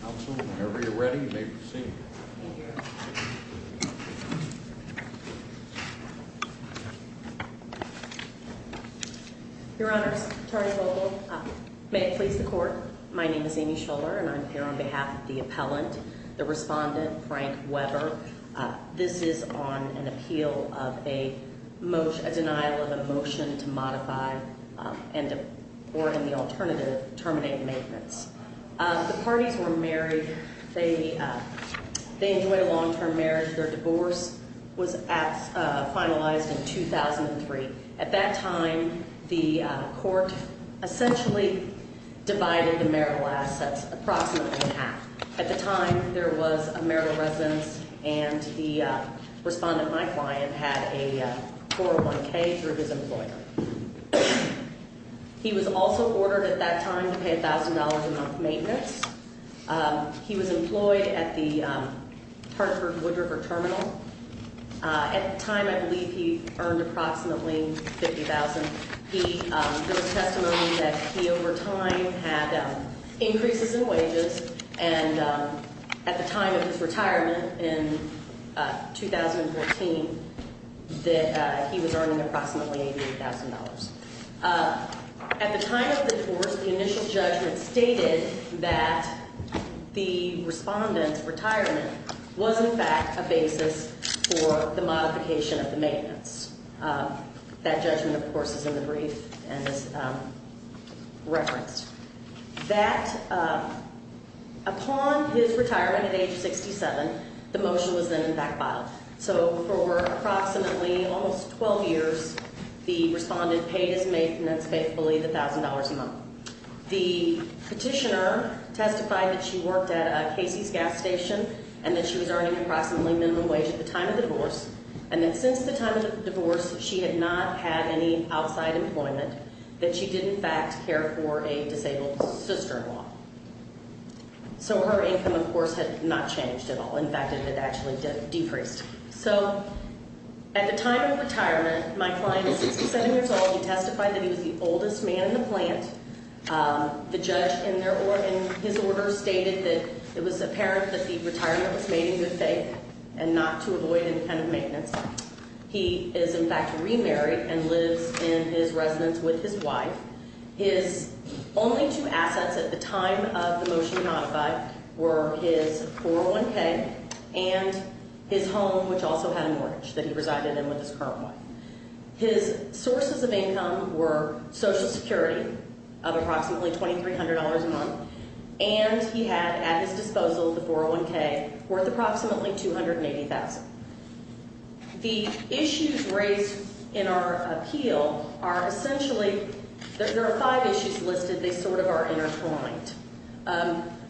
Council, whenever you're ready, you may proceed. Thank you. Your Honors, Attorney Vogel, may it please the Court. My name is Amy Schuler, and I'm here on behalf of the appellant, the respondent, Frank Weber. This is on an appeal of a motion, a denial of a motion to modify and, or in the alternative, terminate maintenance. The parties were married. They enjoyed a long-term marriage. Their divorce was finalized in 2003. At that time, the court essentially divided the marital assets approximately in half. At the time, there was a marital residence, and the respondent, my client, had a 401K through his employer. He was also ordered at that time to pay $1,000 a month maintenance. He was employed at the Hartford-Woodriver Terminal. At the time, I believe he earned approximately $50,000. There was testimony that he, over time, had increases in wages. And at the time of his retirement in 2014, that he was earning approximately $88,000. At the time of the divorce, the initial judgment stated that the respondent's retirement was, in fact, a basis for the modification of the maintenance. That judgment, of course, is in the brief and is referenced. That, upon his retirement at age 67, the motion was then backfiled. So for approximately almost 12 years, the respondent paid his maintenance, faithfully, the $1,000 a month. The petitioner testified that she worked at a Casey's gas station and that she was earning approximately minimum wage at the time of the divorce. And that since the time of the divorce, she had not had any outside employment. That she did, in fact, care for a disabled sister-in-law. So her income, of course, had not changed at all. In fact, it had actually decreased. So at the time of retirement, my client is 67 years old. He testified that he was the oldest man in the plant. The judge in his order stated that it was apparent that the retirement was made in good faith and not to avoid any kind of maintenance. He is, in fact, remarried and lives in his residence with his wife. His only two assets at the time of the motion to modify were his 401k and his home, which also had a mortgage that he resided in with his current wife. His sources of income were Social Security of approximately $2,300 a month. And he had at his disposal the 401k worth approximately $280,000. The issues raised in our appeal are essentially, there are five issues listed. They sort of are intertwined.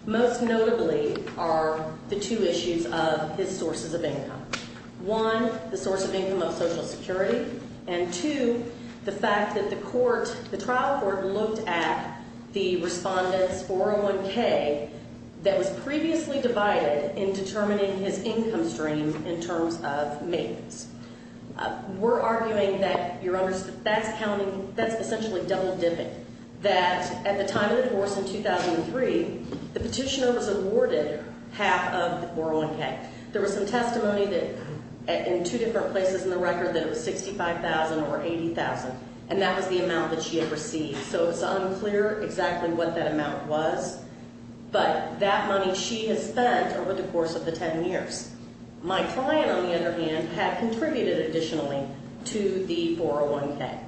Most notably are the two issues of his sources of income. One, the source of income of Social Security. And two, the fact that the court, the trial court looked at the respondent's 401k that was previously divided in determining his income stream in terms of maintenance. We're arguing that, Your Honors, that's counting, that's essentially double dipping. That at the time of the divorce in 2003, the petitioner was awarded half of the 401k. There was some testimony that in two different places in the record that it was $65,000 or $80,000. And that was the amount that she had received. So it's unclear exactly what that amount was. But that money she has spent over the course of the ten years. My client, on the other hand, had contributed additionally to the 401k.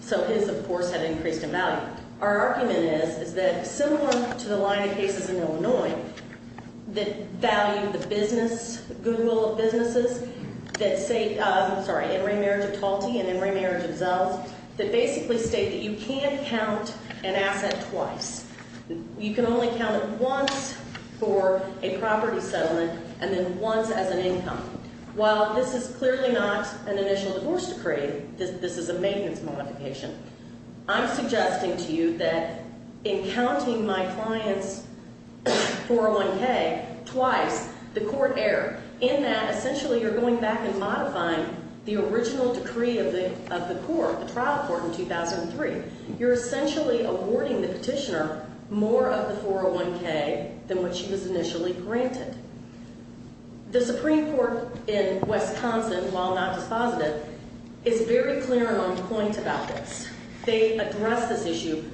So his, of course, had increased in value. Now, our argument is, is that similar to the line of cases in Illinois that value the business, the goodwill of businesses that say, sorry, Emory Marriage of Talty and Emory Marriage of Zells, that basically state that you can't count an asset twice. You can only count it once for a property settlement and then once as an income. While this is clearly not an initial divorce decree, this is a maintenance modification. I'm suggesting to you that in counting my client's 401k twice, the court error, in that essentially you're going back and modifying the original decree of the court, the trial court in 2003. You're essentially awarding the petitioner more of the 401k than what she was initially granted. The Supreme Court in Wisconsin, while not dispositive, is very clear on point about this. They address this issue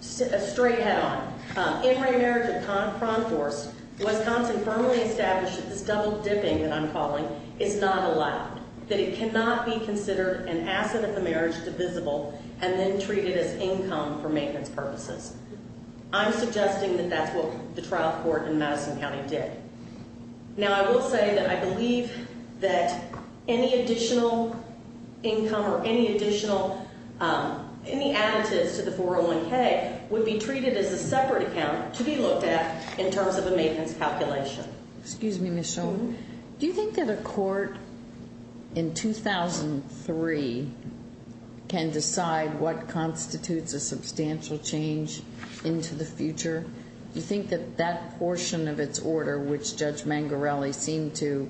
straight head on. Emory Marriage of Cronforce, Wisconsin firmly established that this double dipping that I'm calling is not allowed. That it cannot be considered an asset of the marriage, divisible, and then treated as income for maintenance purposes. I'm suggesting that that's what the trial court in Madison County did. Now, I will say that I believe that any additional income or any additional, any additives to the 401k, would be treated as a separate account to be looked at in terms of a maintenance calculation. Excuse me, Michelle. Do you think that a court in 2003 can decide what constitutes a substantial change into the future? Do you think that that portion of its order, which Judge Mangarelli seemed to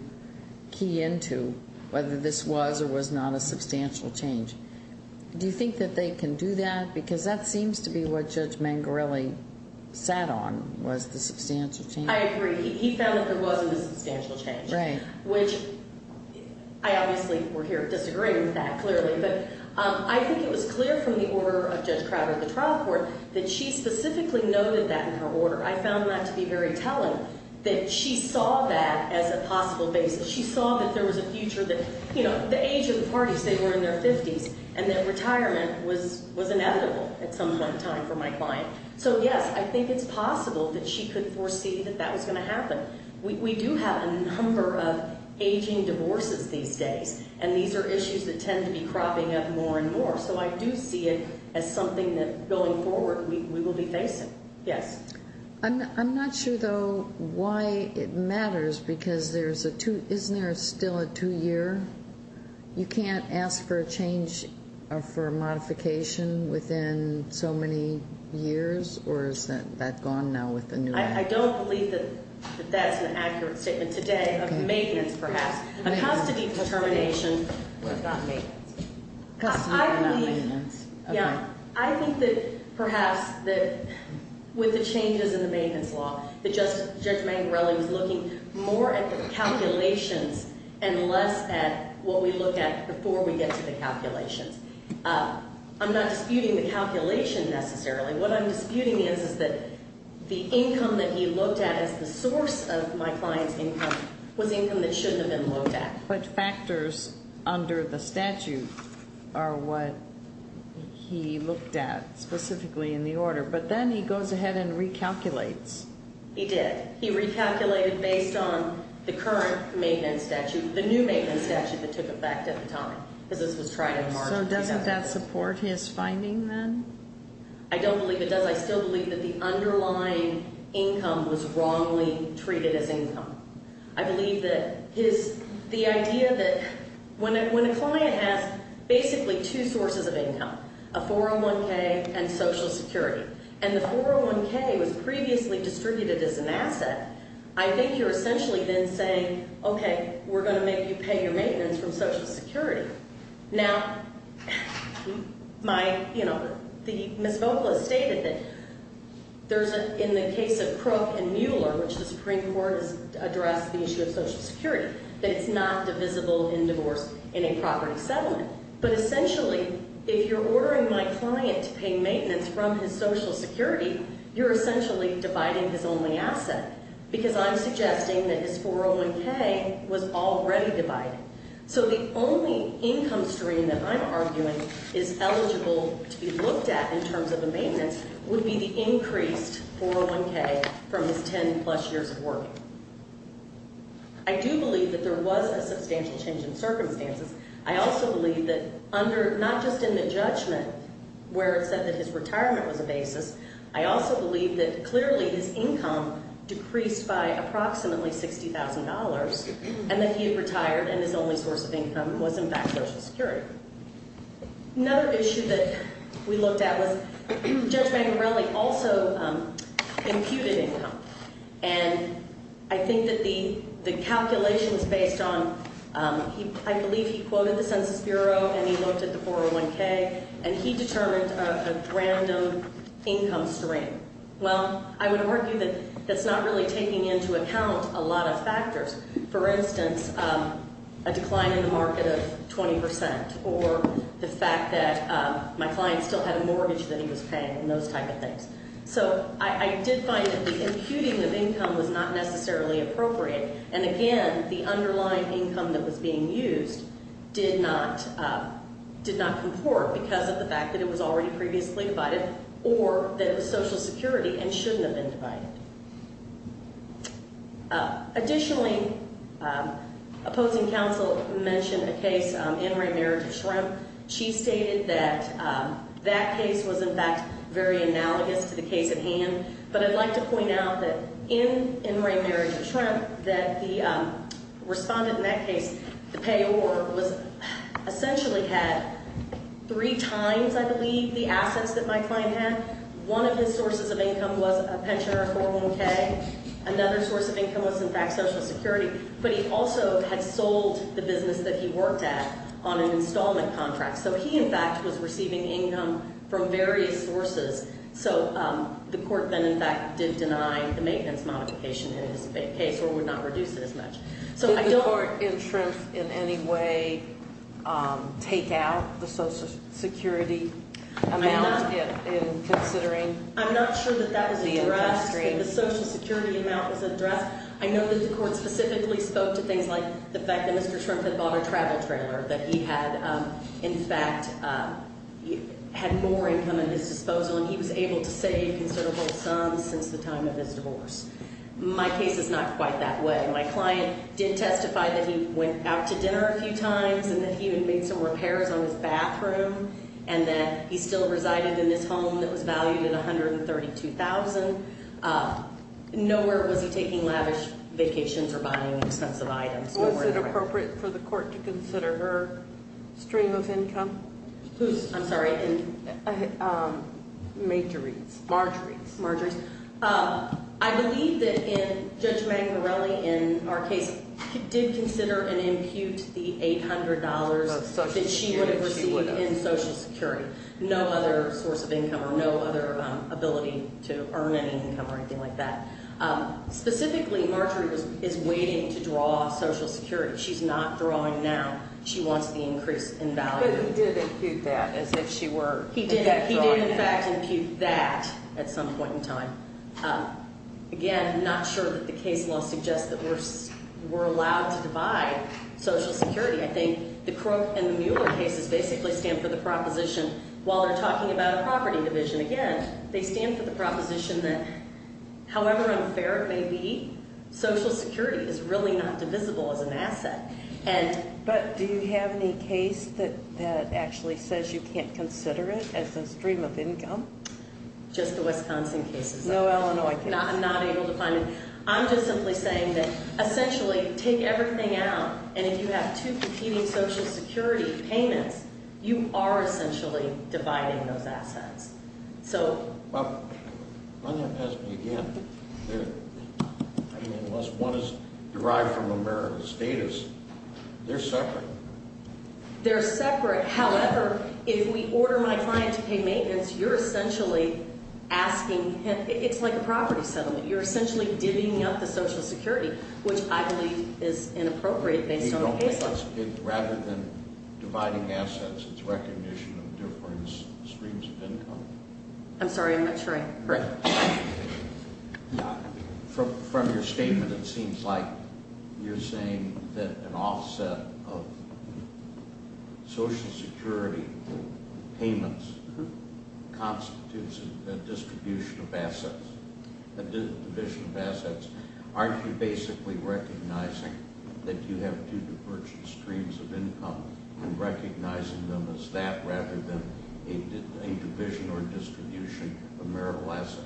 key into, whether this was or was not a substantial change, do you think that they can do that? Because that seems to be what Judge Mangarelli sat on, was the substantial change. I agree. He found that there wasn't a substantial change. Right. Which I obviously were here disagreeing with that, clearly. But I think it was clear from the order of Judge Crowder at the trial court that she specifically noted that in her order. I found that to be very telling, that she saw that as a possible basis. She saw that there was a future that, you know, the age of the parties, they were in their 50s, and that retirement was inevitable at some point in time for my client. So, yes, I think it's possible that she could foresee that that was going to happen. We do have a number of aging divorces these days, and these are issues that tend to be cropping up more and more. So I do see it as something that, going forward, we will be facing. Yes. I'm not sure, though, why it matters, because there's a two ñ isn't there still a two-year? You can't ask for a change or for a modification within so many years, or is that gone now with the new law? I don't believe that that's an accurate statement today. Okay. Of maintenance, perhaps. Okay. A custody determination was not maintenance. Custody was not maintenance. Okay. I believe, yeah, I think that perhaps that with the changes in the maintenance law, Judge Mangarelli was looking more at the calculations and less at what we look at before we get to the calculations. I'm not disputing the calculation necessarily. What I'm disputing is that the income that he looked at as the source of my client's income was income that shouldn't have been looked at. But factors under the statute are what he looked at specifically in the order. But then he goes ahead and recalculates. He did. He recalculated based on the current maintenance statute, the new maintenance statute that took effect at the time, because this was tried in March. So doesn't that support his finding then? I don't believe it does. I still believe that the underlying income was wrongly treated as income. I believe that his, the idea that when a client has basically two sources of income, a 401K and Social Security, and the 401K was previously distributed as an asset, I think you're essentially then saying, okay, we're going to make you pay your maintenance from Social Security. Now, my, you know, the Ms. Vogel has stated that there's a, in the case of Crook and Mueller, which the Supreme Court has addressed the issue of Social Security, that it's not divisible in divorce in a property settlement. But essentially, if you're ordering my client to pay maintenance from his Social Security, you're essentially dividing his only asset, because I'm suggesting that his 401K was already divided. So the only income stream that I'm arguing is eligible to be looked at in terms of a maintenance would be the increased 401K from his 10 plus years of working. I do believe that there was a substantial change in circumstances. I also believe that under, not just in the judgment where it said that his retirement was a basis, I also believe that clearly his income decreased by approximately $60,000 and that he had retired and his only source of income was, in fact, Social Security. Another issue that we looked at was Judge Mangarelli also imputed income. And I think that the calculations based on, I believe he quoted the Census Bureau and he looked at the 401K, and he determined a random income stream. Well, I would argue that that's not really taking into account a lot of factors. For instance, a decline in the market of 20% or the fact that my client still had a mortgage that he was paying and those type of things. So I did find that the imputing of income was not necessarily appropriate. And, again, the underlying income that was being used did not comport because of the fact that it was already previously divided or that it was Social Security and shouldn't have been divided. Additionally, opposing counsel mentioned a case, In re Marriage of Shrimp. She stated that that case was, in fact, very analogous to the case at hand. But I'd like to point out that in In re Marriage of Shrimp that the respondent in that case, the payor, was essentially had three times, I believe, the assets that my client had. One of his sources of income was a pension or a 401K. Another source of income was, in fact, Social Security. But he also had sold the business that he worked at on an installment contract. So he, in fact, was receiving income from various sources. So the court then, in fact, did deny the maintenance modification in his case or would not reduce it as much. So I don't- Did the court in Shrimp in any way take out the Social Security amount in considering the income stream? I'm not sure that that was addressed, that the Social Security amount was addressed. I know that the court specifically spoke to things like the fact that Mr. Shrimp had bought a travel trailer, that he had, in fact, had more income at his disposal. And he was able to save a considerable sum since the time of his divorce. My case is not quite that way. My client did testify that he went out to dinner a few times and that he even made some repairs on his bathroom. And that he still resided in this home that was valued at $132,000. Nowhere was he taking lavish vacations or buying expensive items. Was it appropriate for the court to consider her stream of income? Whose? I'm sorry. Marjorie's. Marjorie's. Marjorie's. I believe that Judge Magnarelli, in our case, did consider and impute the $800 that she would have received in Social Security. No other source of income or no other ability to earn any income or anything like that. Specifically, Marjorie is waiting to draw Social Security. She's not drawing now. She wants the increase in value. But he did impute that as if she were. He did. He did, in fact, impute that at some point in time. Again, I'm not sure that the case law suggests that we're allowed to divide Social Security. I think the Crook and the Mueller cases basically stand for the proposition, while they're talking about a property division. Again, they stand for the proposition that, however unfair it may be, Social Security is really not divisible as an asset. But do you have any case that actually says you can't consider it as a stream of income? Just the Wisconsin cases. No Illinois cases. I'm not able to find it. I'm just simply saying that, essentially, take everything out, and if you have two competing Social Security payments, you are essentially dividing those assets. Well, let me ask you again. Unless one is derived from American status, they're separate. They're separate. However, if we order my client to pay maintenance, you're essentially asking him. It's like a property settlement. You're essentially divvying up the Social Security, which I believe is inappropriate based on the case law. Rather than dividing assets, it's recognition of different streams of income. I'm sorry. I'm not sure. From your statement, it seems like you're saying that an offset of Social Security payments constitutes a distribution of assets, a division of assets. Aren't you basically recognizing that you have two divergent streams of income and recognizing them as that rather than a division or distribution of marital assets?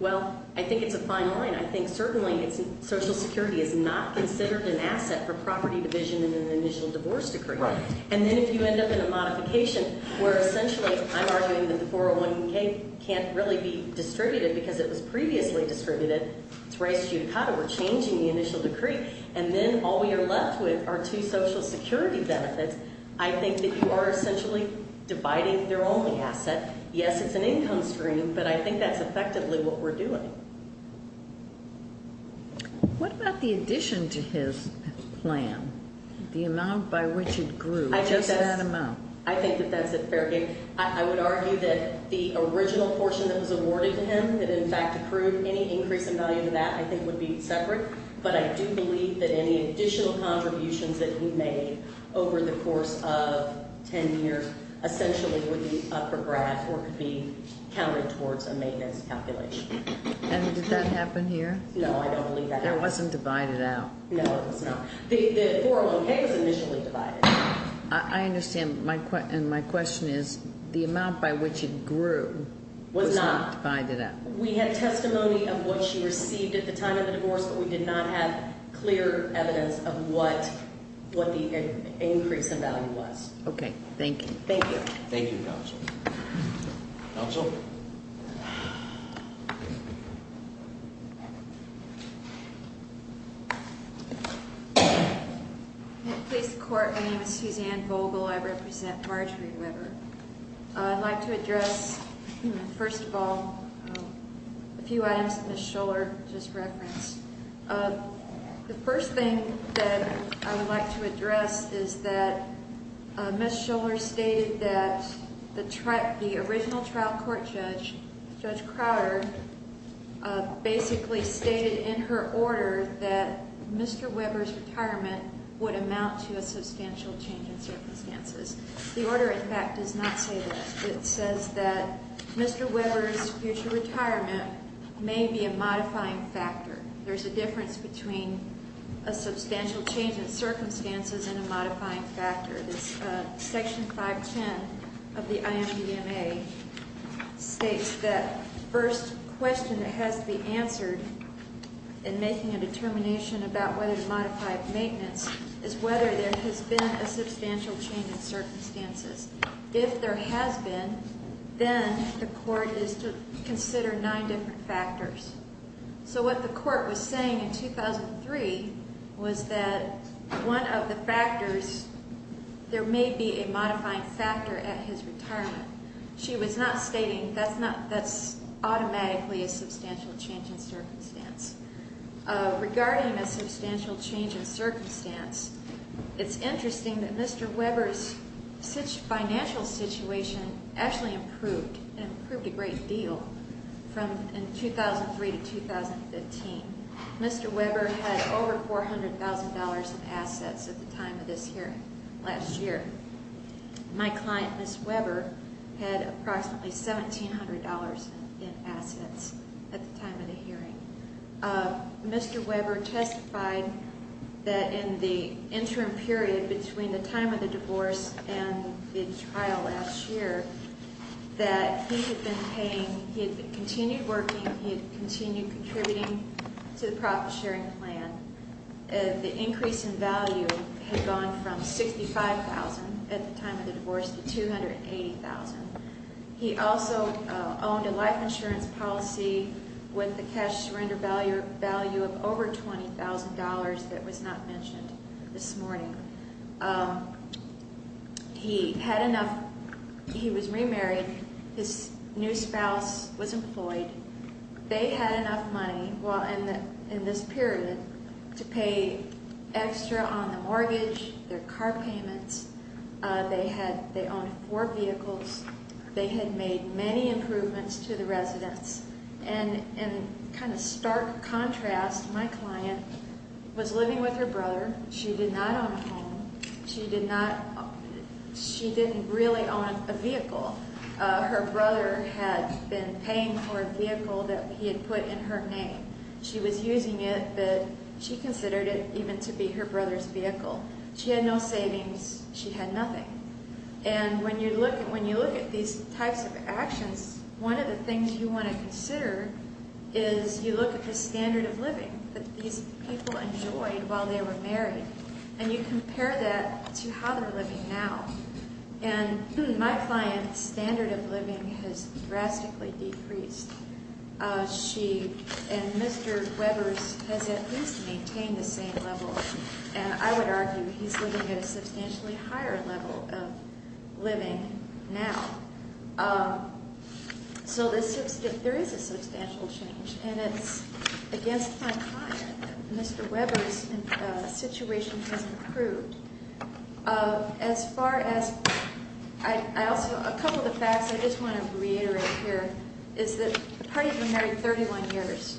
Well, I think it's a fine line. I think certainly Social Security is not considered an asset for property division and an initial divorce decree. Right. And then if you end up in a modification where essentially I'm arguing that the 401K can't really be distributed because it was previously distributed. It's race judicata. We're changing the initial decree. And then all we are left with are two Social Security benefits. I think that you are essentially dividing their only asset. Yes, it's an income stream, but I think that's effectively what we're doing. What about the addition to his plan, the amount by which it grew? Just that amount. I think that that's a fair game. I would argue that the original portion that was awarded to him that in fact accrued any increase in value to that I think would be separate. But I do believe that any additional contributions that he made over the course of ten years essentially would be upper graph or could be counted towards a maintenance calculation. And did that happen here? No, I don't believe that happened. It wasn't divided out. No, it was not. The 401K was initially divided. I understand, and my question is the amount by which it grew was not divided up. We had testimony of what she received at the time of the divorce, but we did not have clear evidence of what the increase in value was. Okay. Thank you. Thank you. Thank you, Counsel. Counsel? Please, the Court. My name is Suzanne Vogel. I represent Marjorie Weber. I'd like to address, first of all, a few items that Ms. Schuller just referenced. The first thing that I would like to address is that Ms. Schuller stated that the original trial court judge, Judge Crowder, basically stated in her order that Mr. Weber's retirement would amount to a substantial change in circumstances. The order, in fact, does not say that. It says that Mr. Weber's future retirement may be a modifying factor. There's a difference between a substantial change in circumstances and a modifying factor. Section 510 of the IMDMA states that the first question that has to be answered in making a determination about whether to modify maintenance is whether there has been a substantial change in circumstances. If there has been, then the Court is to consider nine different factors. So what the Court was saying in 2003 was that one of the factors, there may be a modifying factor at his retirement. She was not stating that's automatically a substantial change in circumstance. Regarding a substantial change in circumstance, it's interesting that Mr. Weber's financial situation actually improved. It improved a great deal from 2003 to 2015. Mr. Weber had over $400,000 in assets at the time of this hearing last year. My client, Ms. Weber, had approximately $1,700 in assets at the time of the hearing. Mr. Weber testified that in the interim period between the time of the divorce and the trial last year, that he had been paying, he had continued working, he had continued contributing to the profit-sharing plan. The increase in value had gone from $65,000 at the time of the divorce to $280,000. He also owned a life insurance policy with the cash surrender value of over $20,000 that was not mentioned this morning. He had enough. He was remarried. His new spouse was employed. They had enough money in this period to pay extra on the mortgage, their car payments. They owned four vehicles. They had made many improvements to the residence. And in kind of stark contrast, my client was living with her brother. She did not own a home. She didn't really own a vehicle. Her brother had been paying for a vehicle that he had put in her name. She was using it, but she considered it even to be her brother's vehicle. She had no savings. She had nothing. And when you look at these types of actions, one of the things you want to consider is you look at the standard of living that these people enjoyed while they were married. And you compare that to how they're living now. And my client's standard of living has drastically decreased. She and Mr. Webber's has at least maintained the same level, and I would argue he's living at a substantially higher level of living now. So there is a substantial change, and it's against my client that Mr. Webber's situation has improved. A couple of the facts I just want to reiterate here is that the party has been married 31 years.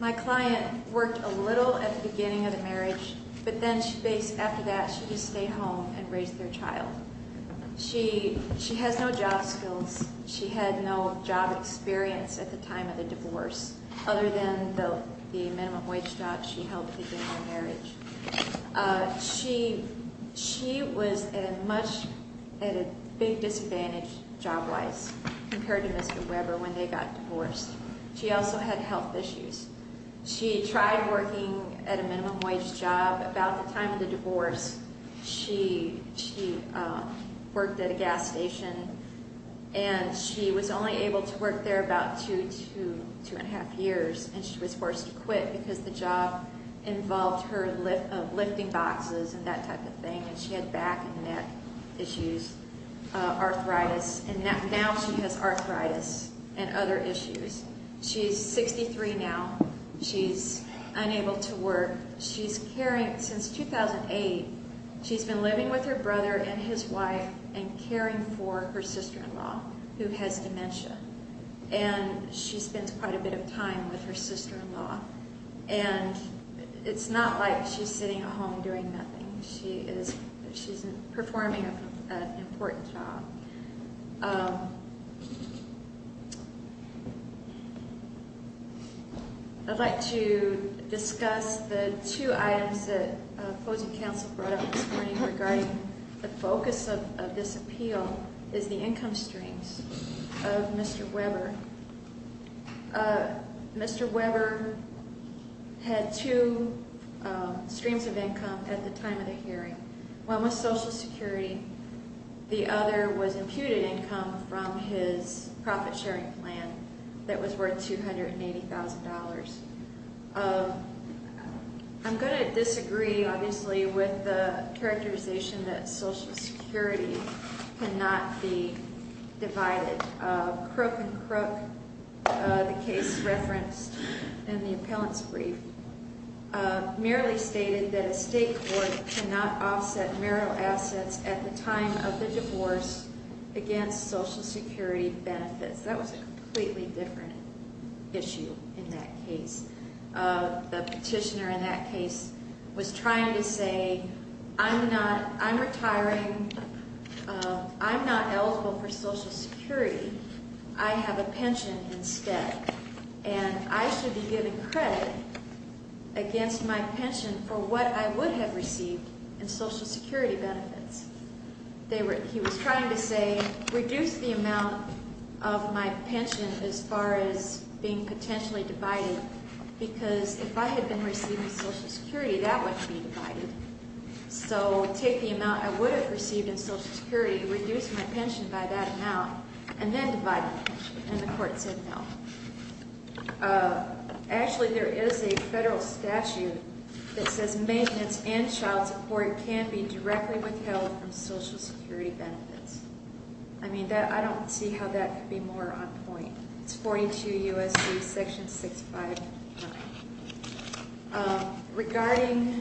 My client worked a little at the beginning of the marriage, but then after that she just stayed home and raised their child. She has no job skills. She had no job experience at the time of the divorce, other than the minimum wage job she held at the beginning of the marriage. She was at a big disadvantage job-wise compared to Mr. Webber when they got divorced. She also had health issues. She tried working at a minimum wage job. About the time of the divorce, she worked at a gas station, and she was only able to work there about two, two and a half years. And she was forced to quit because the job involved her lifting boxes and that type of thing. And she had back and neck issues, arthritis. And now she has arthritis and other issues. She's 63 now. She's unable to work. Since 2008, she's been living with her brother and his wife and caring for her sister-in-law, who has dementia. And she spends quite a bit of time with her sister-in-law. And it's not like she's sitting at home doing nothing. She's performing an important job. I'd like to discuss the two items that opposing counsel brought up this morning regarding the focus of this appeal is the income streams of Mr. Webber. Mr. Webber had two streams of income at the time of the hearing. One was Social Security. The other was imputed income from his profit-sharing plan that was worth $280,000. I'm going to disagree, obviously, with the characterization that Social Security cannot be divided. Crook and Crook, the case referenced in the appellant's brief, merely stated that a state court cannot offset marital assets at the time of the divorce against Social Security benefits. That was a completely different issue in that case. The petitioner in that case was trying to say, I'm retiring. I'm not eligible for Social Security. I have a pension instead. And I should be given credit against my pension for what I would have received in Social Security benefits. He was trying to say, reduce the amount of my pension as far as being potentially divided, because if I had been receiving Social Security, that would be divided. So take the amount I would have received in Social Security, reduce my pension by that amount, and then divide the pension. And the court said no. Actually, there is a federal statute that says maintenance and child support can be directly withheld from Social Security benefits. I mean, I don't see how that could be more on point. It's 42 U.S.C. section 659. Regarding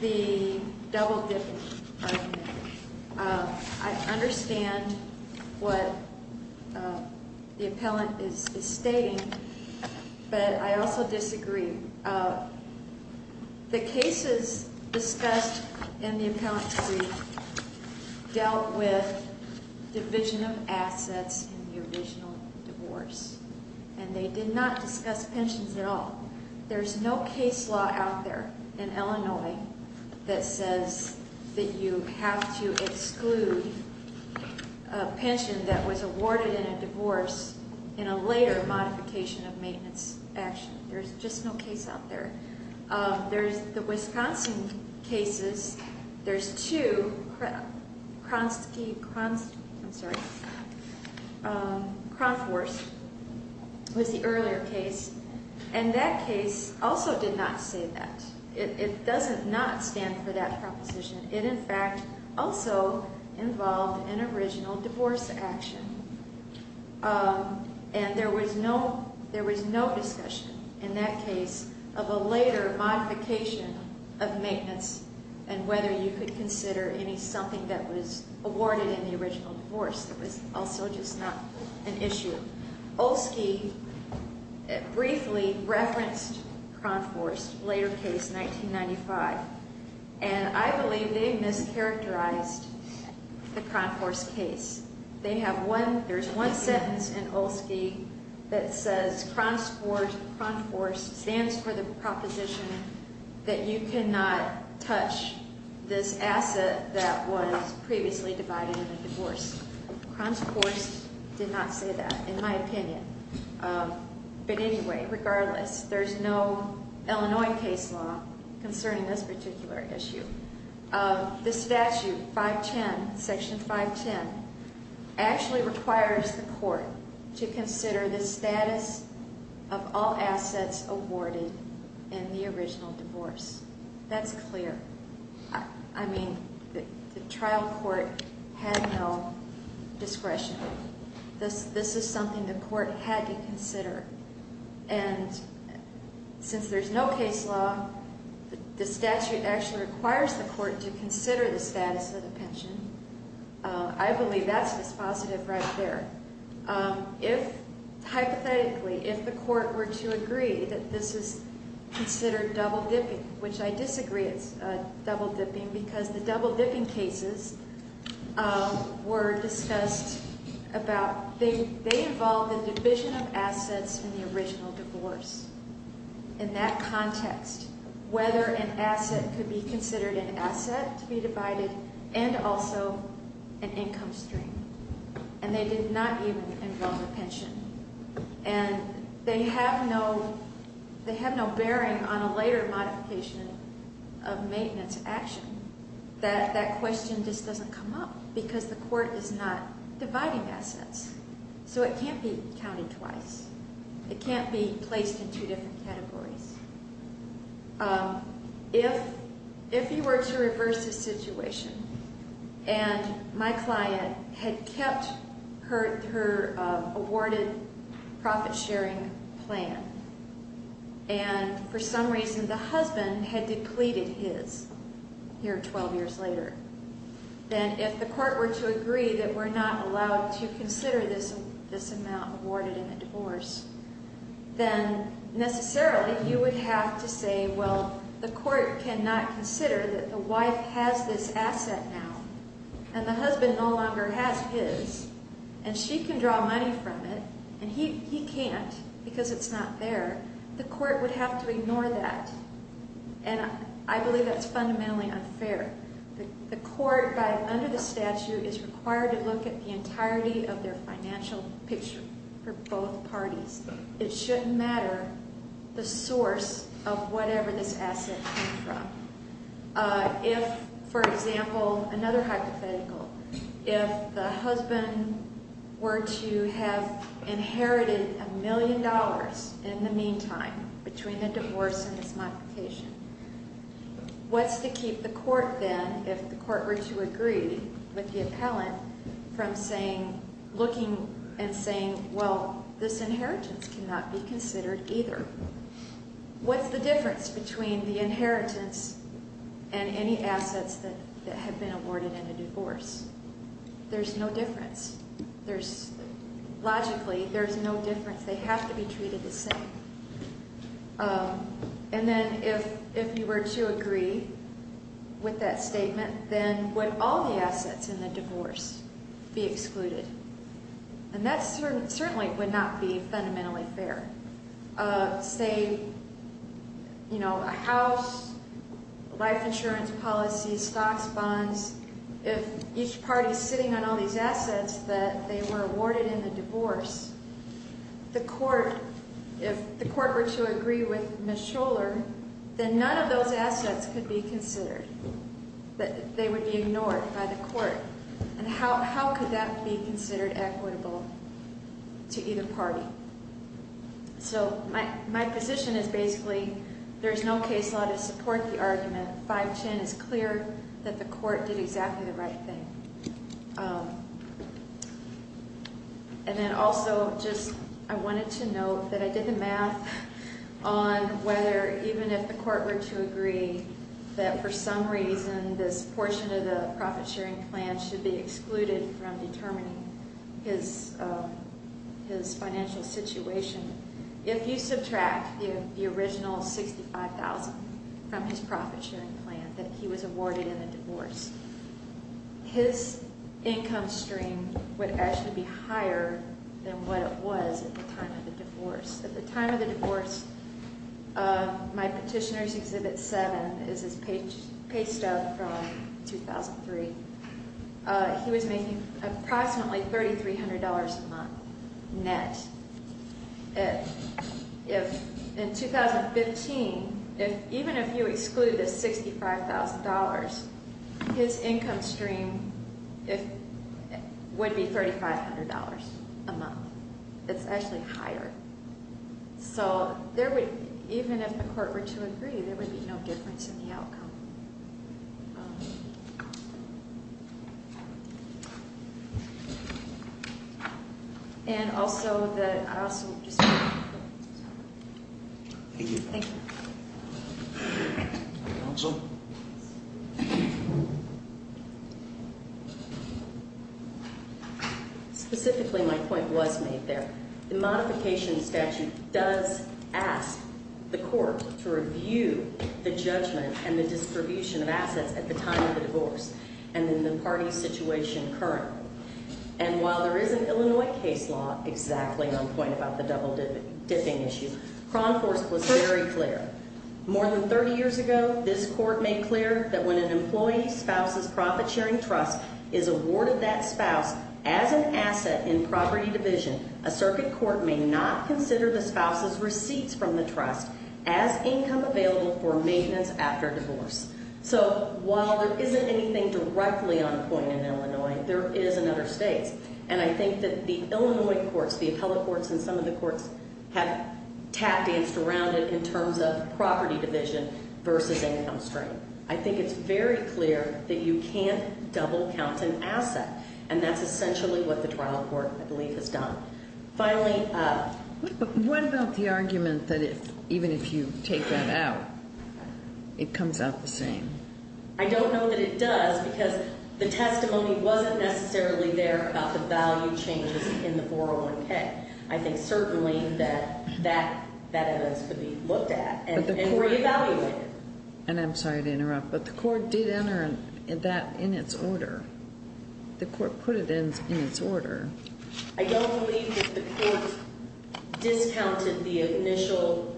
the double-dipping argument, I understand what the appellant is stating, but I also disagree. The cases discussed in the appellant's brief dealt with division of assets in the original divorce, and they did not discuss pensions at all. There's no case law out there in Illinois that says that you have to exclude a pension that was awarded in a divorce in a later modification of maintenance action. There's just no case out there. There's the Wisconsin cases. There's two. Kronfors was the earlier case, and that case also did not say that. It doesn't not stand for that proposition. It, in fact, also involved an original divorce action. And there was no discussion in that case of a later modification of maintenance and whether you could consider any something that was awarded in the original divorce. It was also just not an issue. Olski briefly referenced Kronfors' later case, 1995, and I believe they mischaracterized the Kronfors case. There's one sentence in Olski that says Kronfors stands for the proposition that you cannot touch this asset that was previously divided in a divorce. Kronfors did not say that, in my opinion. But anyway, regardless, there's no Illinois case law concerning this particular issue. The statute, 510, Section 510, actually requires the court to consider the status of all assets awarded in the original divorce. That's clear. I mean, the trial court had no discretion. This is something the court had to consider. And since there's no case law, the statute actually requires the court to consider the status of the pension. I believe that's dispositive right there. Hypothetically, if the court were to agree that this is considered double-dipping, which I disagree it's double-dipping, because the double-dipping cases were discussed about they involve the division of assets in the original divorce. In that context, whether an asset could be considered an asset to be divided and also an income stream. And they did not even involve a pension. And they have no bearing on a later modification of maintenance action. That question just doesn't come up, because the court is not dividing assets. So it can't be counted twice. It can't be placed in two different categories. If you were to reverse the situation, and my client had kept her awarded profit-sharing plan, and for some reason the husband had depleted his here 12 years later, then if the court were to agree that we're not allowed to consider this amount awarded in a divorce, then necessarily you would have to say, well, the court cannot consider that the wife has this asset now, and the husband no longer has his, and she can draw money from it, and he can't because it's not there. The court would have to ignore that. And I believe that's fundamentally unfair. The court, under the statute, is required to look at the entirety of their financial picture for both parties. It shouldn't matter the source of whatever this asset came from. If, for example, another hypothetical, if the husband were to have inherited a million dollars in the meantime between the divorce and this modification, what's to keep the court then, if the court were to agree with the appellant, from looking and saying, well, this inheritance cannot be considered either. What's the difference between the inheritance and any assets that have been awarded in a divorce? There's no difference. Logically, there's no difference. They have to be treated the same. And then if you were to agree with that statement, then would all the assets in the divorce be excluded? And that certainly would not be fundamentally fair. Say, you know, a house, life insurance policies, stocks, bonds, if each party is sitting on all these assets that they were awarded in the divorce, the court, if the court were to agree with Ms. Scholler, then none of those assets could be considered. They would be ignored by the court. And how could that be considered equitable to either party? So my position is basically there's no case law to support the argument. 510 is clear that the court did exactly the right thing. And then also just I wanted to note that I did the math on whether even if the court were to agree that for some reason this portion of the profit-sharing plan should be excluded from determining his financial situation, if you subtract the original $65,000 from his profit-sharing plan that he was awarded in the divorce, his income stream would actually be higher than what it was at the time of the divorce. At the time of the divorce, my petitioner's Exhibit 7 is his pay stub from 2003. He was making approximately $3,300 a month net. In 2015, even if you excluded the $65,000, his income stream would be $3,500 a month. It's actually higher. So even if the court were to agree, there would be no difference in the outcome. And also that I also just want to note. Thank you. Thank you. Counsel? Specifically, my point was made there. The modification statute does ask the court to review the judgment and the distribution of assets at the time of the divorce and in the party's situation currently. And while there is an Illinois case law, exactly my point about the double-dipping issue, Cronforce was very clear. More than 30 years ago, this court made clear that when an employee's spouse's profit-sharing trust is awarded that spouse as an asset in property division, a circuit court may not consider the spouse's receipts from the trust as income available for maintenance after divorce. So while there isn't anything directly on point in Illinois, there is in other states. And I think that the Illinois courts, the appellate courts and some of the courts, have tapped and surrounded in terms of property division versus income stream. I think it's very clear that you can't double count an asset. And that's essentially what the trial court, I believe, has done. Finally... But what about the argument that even if you take that out, it comes out the same? I don't know that it does because the testimony wasn't necessarily there about the value changes in the 401K. I think certainly that that evidence could be looked at and re-evaluated. And I'm sorry to interrupt, but the court did enter that in its order. The court put it in its order. I don't believe that the court discounted the initial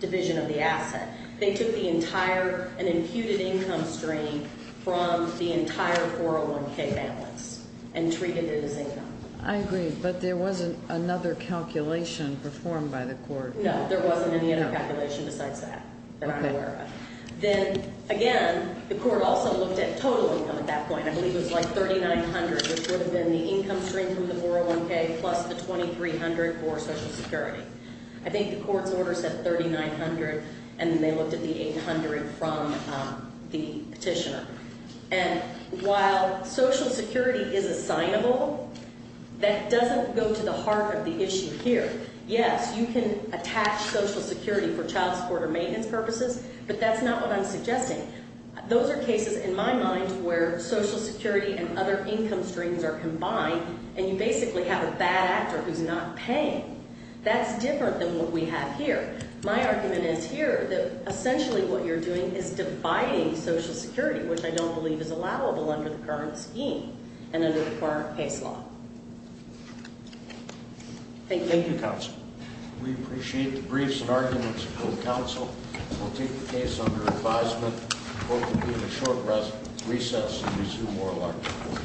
division of the asset. They took an imputed income stream from the entire 401K balance and treated it as income. I agree, but there wasn't another calculation performed by the court. No, there wasn't any other calculation besides that that I'm aware of. Then, again, the court also looked at total income at that point. I believe it was like $3,900, which would have been the income stream from the 401K plus the $2,300 for Social Security. I think the court's order said $3,900, and then they looked at the $800 from the petitioner. And while Social Security is assignable, that doesn't go to the heart of the issue here. Yes, you can attach Social Security for child support or maintenance purposes, but that's not what I'm suggesting. Those are cases, in my mind, where Social Security and other income streams are combined, and you basically have a bad actor who's not paying. That's different than what we have here. My argument is here that essentially what you're doing is dividing Social Security, which I don't believe is allowable under the current scheme and under the current case law. Thank you, counsel. We appreciate the briefs and arguments of both counsel. We'll take the case under advisement. The court will be in a short recess and resume oral argument.